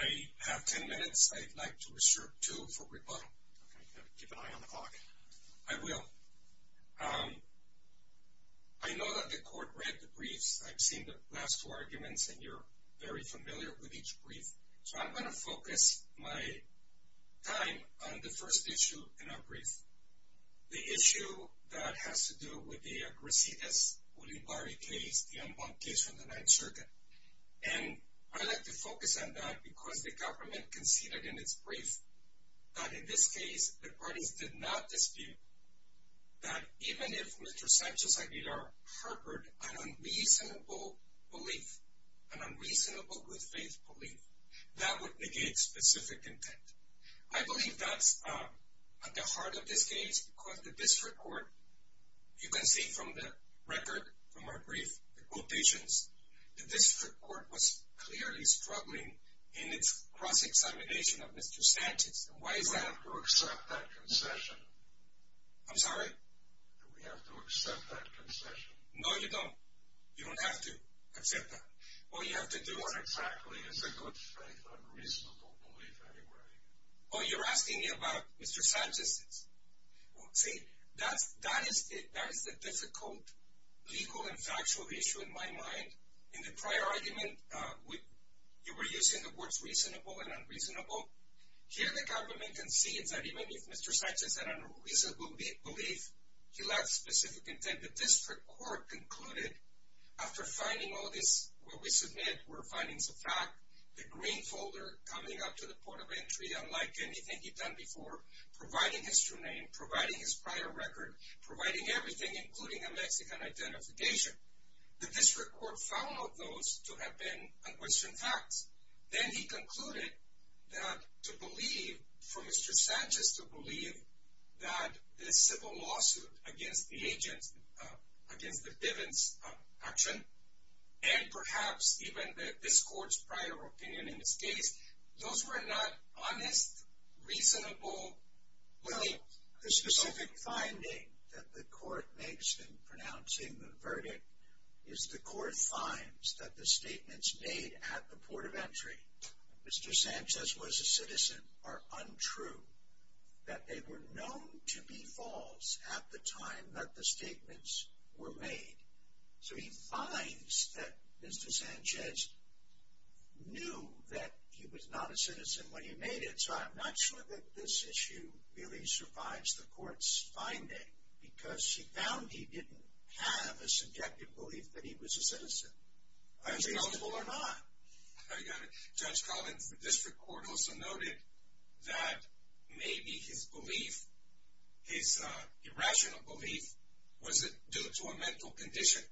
I have 10 minutes. I'd like to reserve 2 for rebuttal. Keep an eye on the clock. I will. I know that the court read the briefs. I've seen the last two arguments and you're very familiar with each brief. So I'm going to focus my time on the first issue in our brief. The issue that has to do with the Grisillas-Bolivari case, the unbunked case from the 9th Circuit. And I'd like to focus on that because the government conceded in its brief that in this case the parties did not dispute that even if Mr. Sanchez-Aguilar harbored an unreasonable belief, an unreasonable good faith belief, that would negate specific intent. I believe that's at the heart of this case because the district court, you can see from the record from our brief, the quotations, the district court was clearly struggling in its cross-examination of Mr. Sanchez. Why is that? We have to accept that concession. I'm sorry? We have to accept that concession. No, you don't. You don't have to accept that. All you have to do is... Oh, you're asking me about Mr. Sanchez. See, that is the difficult legal and factual issue in my mind. In the prior argument, you were using the words reasonable and unreasonable. Here the government concedes that even if Mr. Sanchez had an unreasonable belief, he lacked specific intent. And the district court concluded after finding all this, what we submit were findings of fact, the green folder coming up to the point of entry, unlike anything he'd done before, providing his true name, providing his prior record, providing everything, including a Mexican identification. The district court found all of those to have been unquestioned facts. Then he concluded that to believe, for Mr. Sanchez to believe that this civil lawsuit against the agents, against the Bivens action, and perhaps even this court's prior opinion in this case, those were not honest, reasonable... The specific finding that the court makes in pronouncing the verdict is the court finds that the statements made at the port of entry, Mr. Sanchez was a citizen, are untrue, that they were known to be false at the time that the statements were made. So he finds that Mr. Sanchez knew that he was not a citizen when he made it. So I'm not sure that this issue really survives the court's finding, because she found he didn't have a subjective belief that he was a citizen. Reasonable or not. Judge Collins, the district court also noted that maybe his belief, his irrational belief, was due to a mental condition.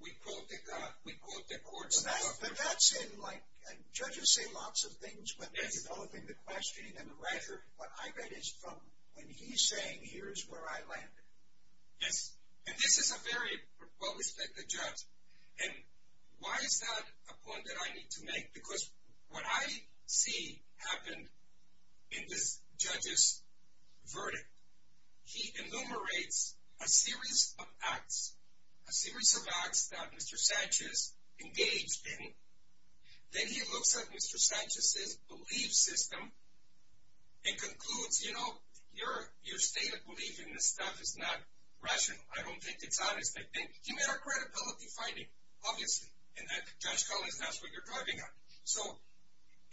We quote the court's... But that's in like, judges say lots of things when they're developing the questioning and the rhetoric. What I read is from when he's saying, here's where I landed. Yes, and this is a very well-respected judge. And why is that a point that I need to make? Because what I see happened in this judge's verdict, he enumerates a series of acts, a series of acts that Mr. Sanchez engaged in. Then he looks at Mr. Sanchez's belief system and concludes, you know, your state of belief in this stuff is not rational. I don't think it's honest. He made a credibility finding, obviously. And that, Judge Collins, that's what you're driving at. So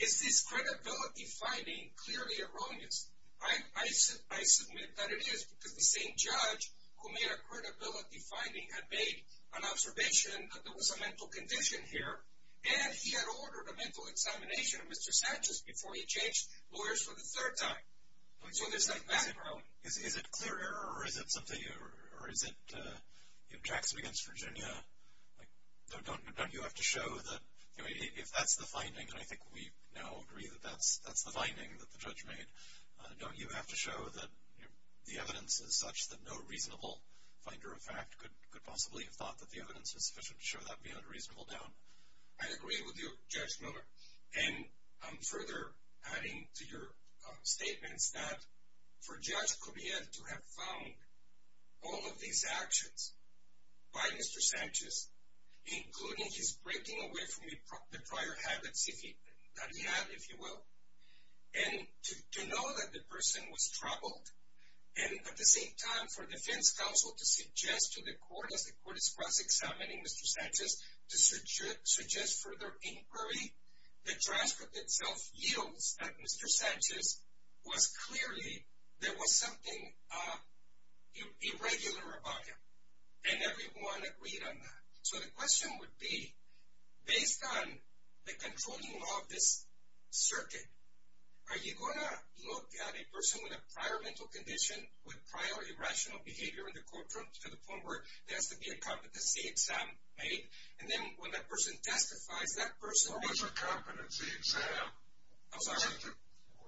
is this credibility finding clearly erroneous? I submit that it is, because the same judge who made a credibility finding had made an observation that there was a mental condition here. And he had ordered a mental examination of Mr. Sanchez before he changed lawyers for the third time. Is it clear error, or is it something, or is it Jackson against Virginia? Don't you have to show that if that's the finding, and I think we now agree that that's the finding that the judge made, don't you have to show that the evidence is such that no reasonable finder of fact could possibly have thought that the evidence was sufficient to show that would be an unreasonable doubt? I agree with you, Judge Miller. And I'm further adding to your statements that for Judge Correa to have found all of these actions by Mr. Sanchez, including his breaking away from the prior habits that he had, if you will, and to know that the person was troubled, and at the same time for defense counsel to suggest to the court as the court is cross-examining Mr. Sanchez to suggest further inquiry, the transcript itself yields that Mr. Sanchez was clearly, there was something irregular about him. And everyone agreed on that. So the question would be, based on the controlling law of this circuit, are you going to look at a person with a prior mental condition, with prior irrational behavior in the courtroom, to the point where there has to be a competency exam made, and then when that person testifies, that person- What was a competency exam? I'm sorry?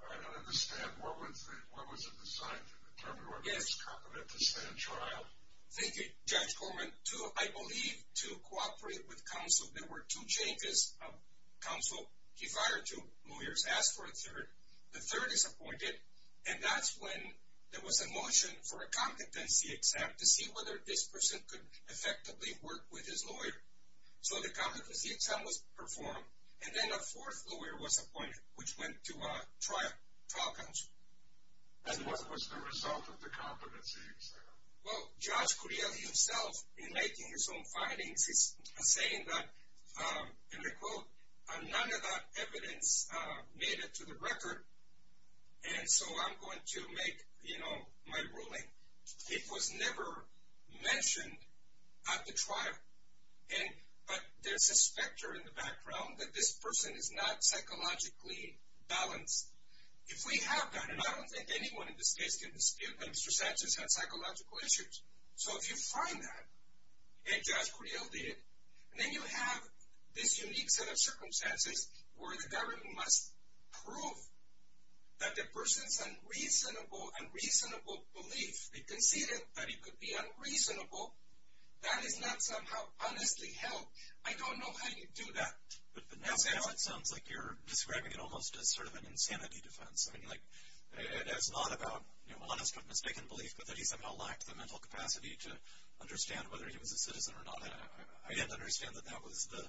I don't understand. What was it designed to determine? Yes. What was a competency exam trial? Thank you, Judge Corman. I believe to cooperate with counsel, there were two changes of counsel. He fired two lawyers, asked for a third. The third is appointed, and that's when there was a motion for a competency exam to see whether this person could effectively work with his lawyer. So the competency exam was performed, and then a fourth lawyer was appointed, which went to a trial counsel. And what was the result of the competency exam? Well, Judge Curiel himself, in making his own findings, is saying that, and I quote, none of that evidence made it to the record, and so I'm going to make, you know, my ruling. It was never mentioned at the trial, but there's a specter in the background that this person is not psychologically balanced. If we have that, and I don't think anyone in this case can dispute that Mr. Sanchez had psychological issues, so if you find that, and Judge Curiel did, and then you have this unique set of circumstances where the government must prove that the person's unreasonable belief, they conceded that he could be unreasonable, that is not somehow honestly held. I don't know how you do that. But now it sounds like you're describing it almost as sort of an insanity defense. I mean, like it's not about honest but mistaken belief, but that he somehow lacked the mental capacity to understand whether he was a citizen or not. I didn't understand that that was the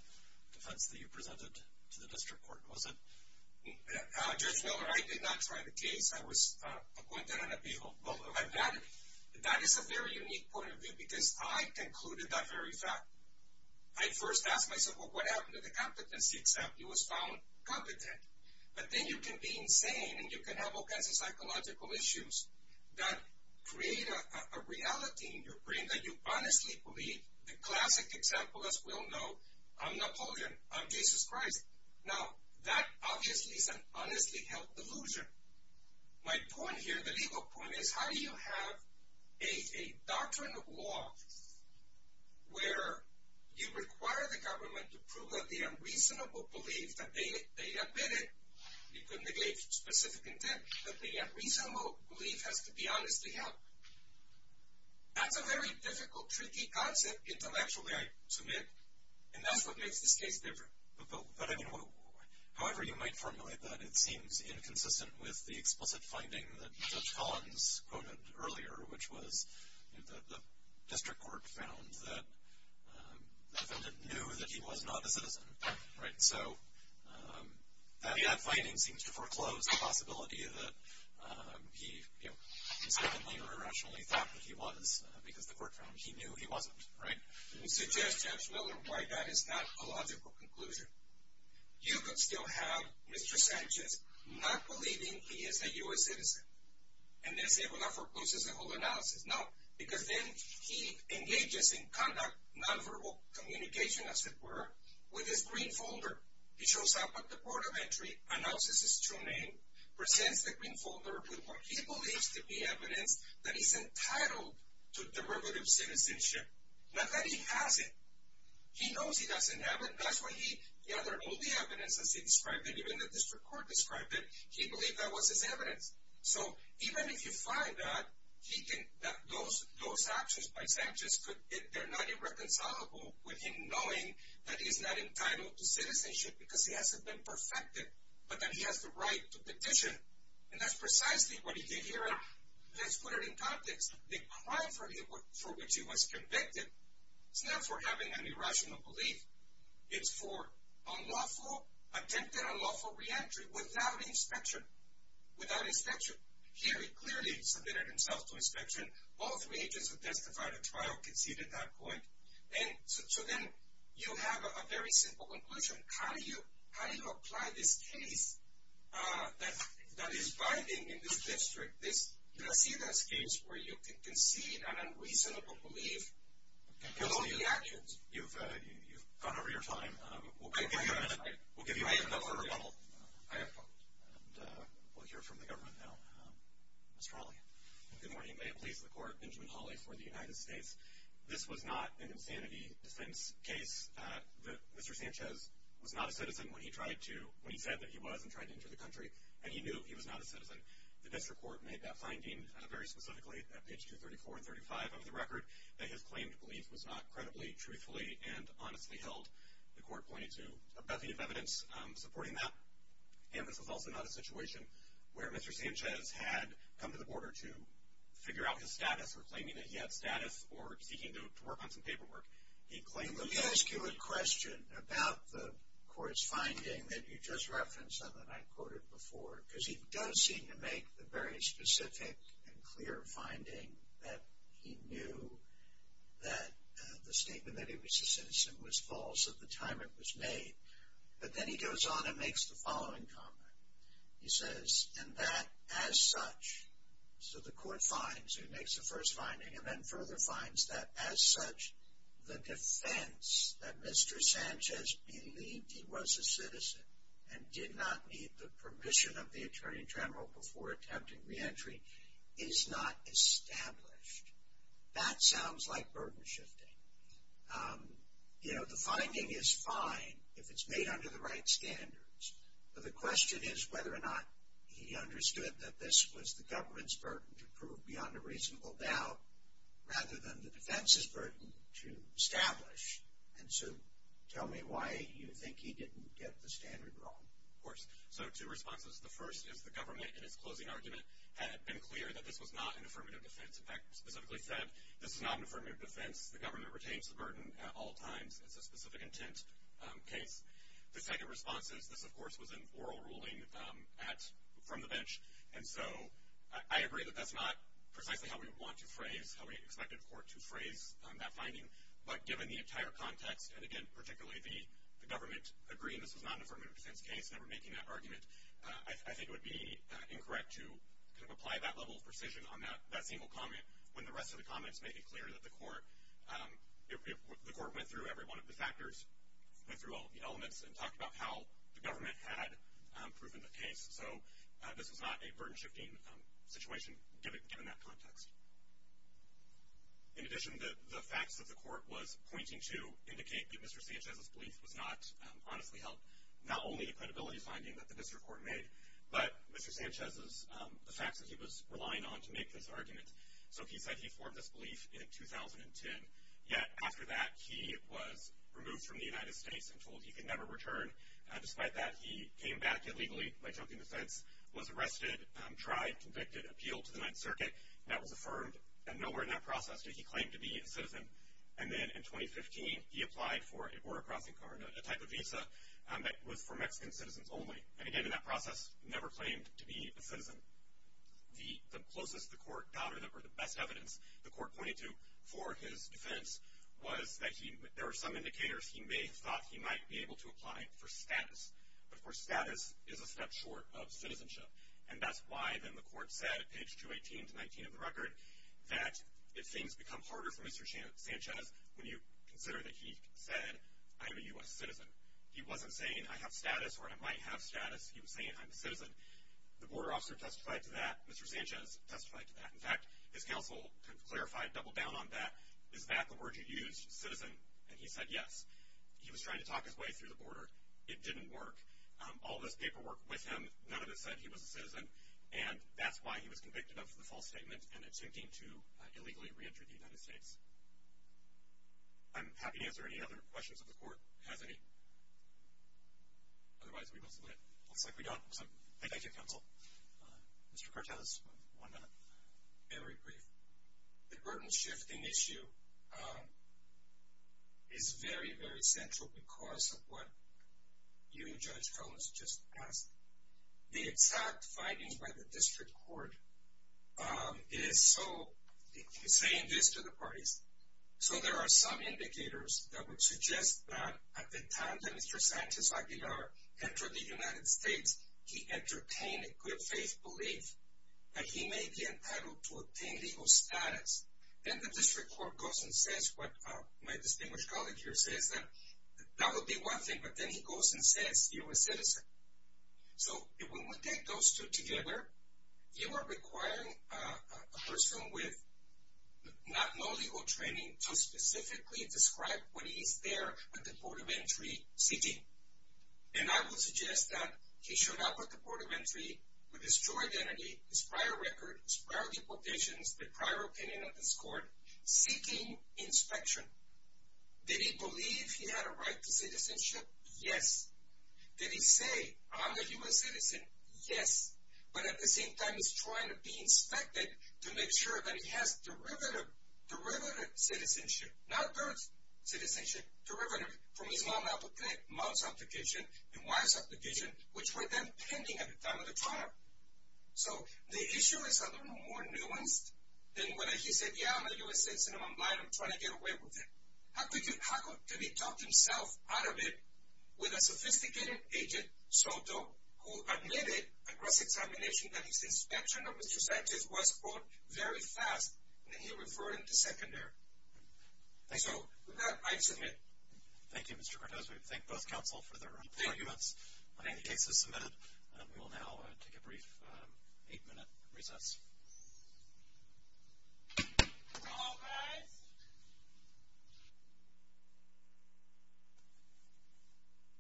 defense that you presented to the district court, was it? Judge Miller, I did not try the case. I was appointed on appeal. That is a very unique point of view because I concluded that very fact. I first asked myself, well, what happened to the competency exam? It was found competent. But then you can be insane and you can have all kinds of psychological issues that create a reality in your brain that you honestly believe the classic example, as we all know, I'm Napoleon, I'm Jesus Christ. Now, that obviously is an honestly held delusion. My point here, the legal point, is how do you have a doctrine of law where you require the government to prove that the unreasonable belief that they admitted, you can negate specific intent, but the unreasonable belief has to be honestly held. That's a very difficult, tricky concept intellectually, I submit. And that's what makes this case different. However you might formulate that, it seems inconsistent with the explicit finding that Judge Collins quoted earlier, which was the district court found that the defendant knew that he was not a citizen. So, that finding seems to foreclose the possibility that he, incidentally or irrationally, thought that he was because the court found he knew he wasn't. Right? And we suggest, Judge Miller, why that is not a logical conclusion. You could still have Mr. Sanchez not believing he is a U.S. citizen. And they say, well, that forecloses the whole analysis. No, because then he engages in conduct, nonverbal communication, as it were, with his green folder. He shows up at the port of entry, announces his true name, presents the green folder with what he believes to be evidence that he's entitled to derivative citizenship. Not that he has it. He knows he doesn't have it. That's why he gathered all the evidence as he described it, even the district court described it. He believed that was his evidence. So, even if you find that, those actions by Sanchez, they're not irreconcilable with him knowing that he's not entitled to citizenship because he hasn't been perfected, but that he has the right to petition. And that's precisely what he did here. Now, let's put it in context. The crime for which he was convicted is not for having an irrational belief. It's for attempted unlawful reentry without inspection. Here he clearly submitted himself to inspection. All three agents who testified at trial conceded that point. So then you have a very simple conclusion. How do you apply this case that is binding in this district, this case where you can concede an unreasonable belief? You've gone over your time. We'll give you a minute. We'll hear from the government now. Mr. Hawley. Good morning. May it please the court, Benjamin Hawley for the United States. This was not an insanity defense case. Mr. Sanchez was not a citizen when he said that he was and tried to enter the country, and he knew he was not a citizen. The district court made that finding very specifically at page 234 and 335 of the record, that his claimed belief was not credibly, truthfully, and honestly held. The court pointed to a bevy of evidence supporting that. And this was also not a situation where Mr. Sanchez had come to the border to figure out his status or claiming that he had status or seeking to work on some paperwork. He claimed, let me ask you a question about the court's finding that you just referenced and that I quoted before, because he does seem to make the very specific and clear finding that he knew that the statement that he was a citizen was false at the time it was made. But then he goes on and makes the following comment. He says, and that as such. So the court finds and makes the first finding and then further finds that as such, the defense that Mr. Sanchez believed he was a citizen and did not need the permission of the Attorney General before attempting reentry is not established. That sounds like burden shifting. You know, the finding is fine if it's made under the right standards. But the question is whether or not he understood that this was the government's burden to prove beyond a reasonable doubt rather than the defense's burden to establish. And so tell me why you think he didn't get the standard wrong. Of course. So two responses. The first is the government in its closing argument had been clear that this was not an affirmative defense. In fact, specifically said, this is not an affirmative defense. The government retains the burden at all times. It's a specific intent case. The second response is this, of course, was an oral ruling from the bench. And so I agree that that's not precisely how we want to phrase, how we expected the court to phrase that finding. But given the entire context and, again, particularly the government agreeing this was not an affirmative defense case and that we're making that argument, I think it would be incorrect to apply that level of precision on that single comment when the rest of the comments make it clear that the court went through every one of the factors, went through all of the elements, and talked about how the government had proven the case. So this was not a burden-shifting situation given that context. In addition, the facts that the court was pointing to indicate that Mr. Sanchez's belief was not honestly held, not only the credibility finding that the district court made, but Mr. Sanchez's, the facts that he was relying on to make this argument. So he said he formed this belief in 2010. Yet after that, he was removed from the United States and told he could never return. Despite that, he came back illegally by jumping the fence, was arrested, tried, convicted, appealed to the Ninth Circuit, and that was affirmed. And nowhere in that process did he claim to be a citizen. And then in 2015, he applied for a border crossing card, a type of visa that was for Mexican citizens only. And again, in that process, never claimed to be a citizen. The closest the court got, or the best evidence the court pointed to for his defense, was that there were some indicators he may have thought he might be able to apply for status. But, of course, status is a step short of citizenship. And that's why, then, the court said, at page 218 to 119 of the record, that if things become harder for Mr. Sanchez, when you consider that he said, I'm a U.S. citizen, he wasn't saying, I have status or I might have status. He was saying, I'm a citizen. The border officer testified to that. Mr. Sanchez testified to that. In fact, his counsel kind of clarified, doubled down on that. Is that the word you used, citizen? And he said, yes. He was trying to talk his way through the border. It didn't work. All this paperwork with him, none of it said he was a citizen. And that's why he was convicted of the false statement and attempting to illegally re-enter the United States. I'm happy to answer any other questions if the court has any. Otherwise, it looks like we don't. So, thank you, counsel. Mr. Cortez, one minute. Very brief. The burden-shifting issue is very, very central because of what you, Judge Collins, just asked. The exact findings by the district court is so, saying this to the parties, so there are some indicators that would suggest that at the time that Mr. Sanchez Aguilar entered the United States, he entertained a good faith belief that he may be entitled to obtain legal status. Then the district court goes and says what my distinguished colleague here says, that that would be one thing, but then he goes and says, you're a citizen. So, when we take those two together, you are requiring a person with not no legal training to specifically describe what he is there with the Board of Entry seeking. And I would suggest that he showed up at the Board of Entry with his true identity, his prior record, his prior deportations, the prior opinion of this court, seeking inspection. Did he believe he had a right to citizenship? Yes. Did he say, I'm a U.S. citizen? Yes. But at the same time, he's trying to be inspected to make sure that he has derivative citizenship, not birth citizenship, derivative from his mom's application and wife's application, which were then pending at the time of the trial. So, the issue is more nuanced than whether he said, yeah, I'm a U.S. citizen, I'm blind, I'm trying to get away with it. How could he talk himself out of it with a sophisticated agent, Soto, who admitted across examination that his inspection of Mr. Sanchez was, quote, very fast, and he referred him to secondary. So, with that, I submit. Thank you, Mr. Cortez. We thank both counsel for their arguments. I think the case is submitted. We will now take a brief eight-minute recess. Hello, guys.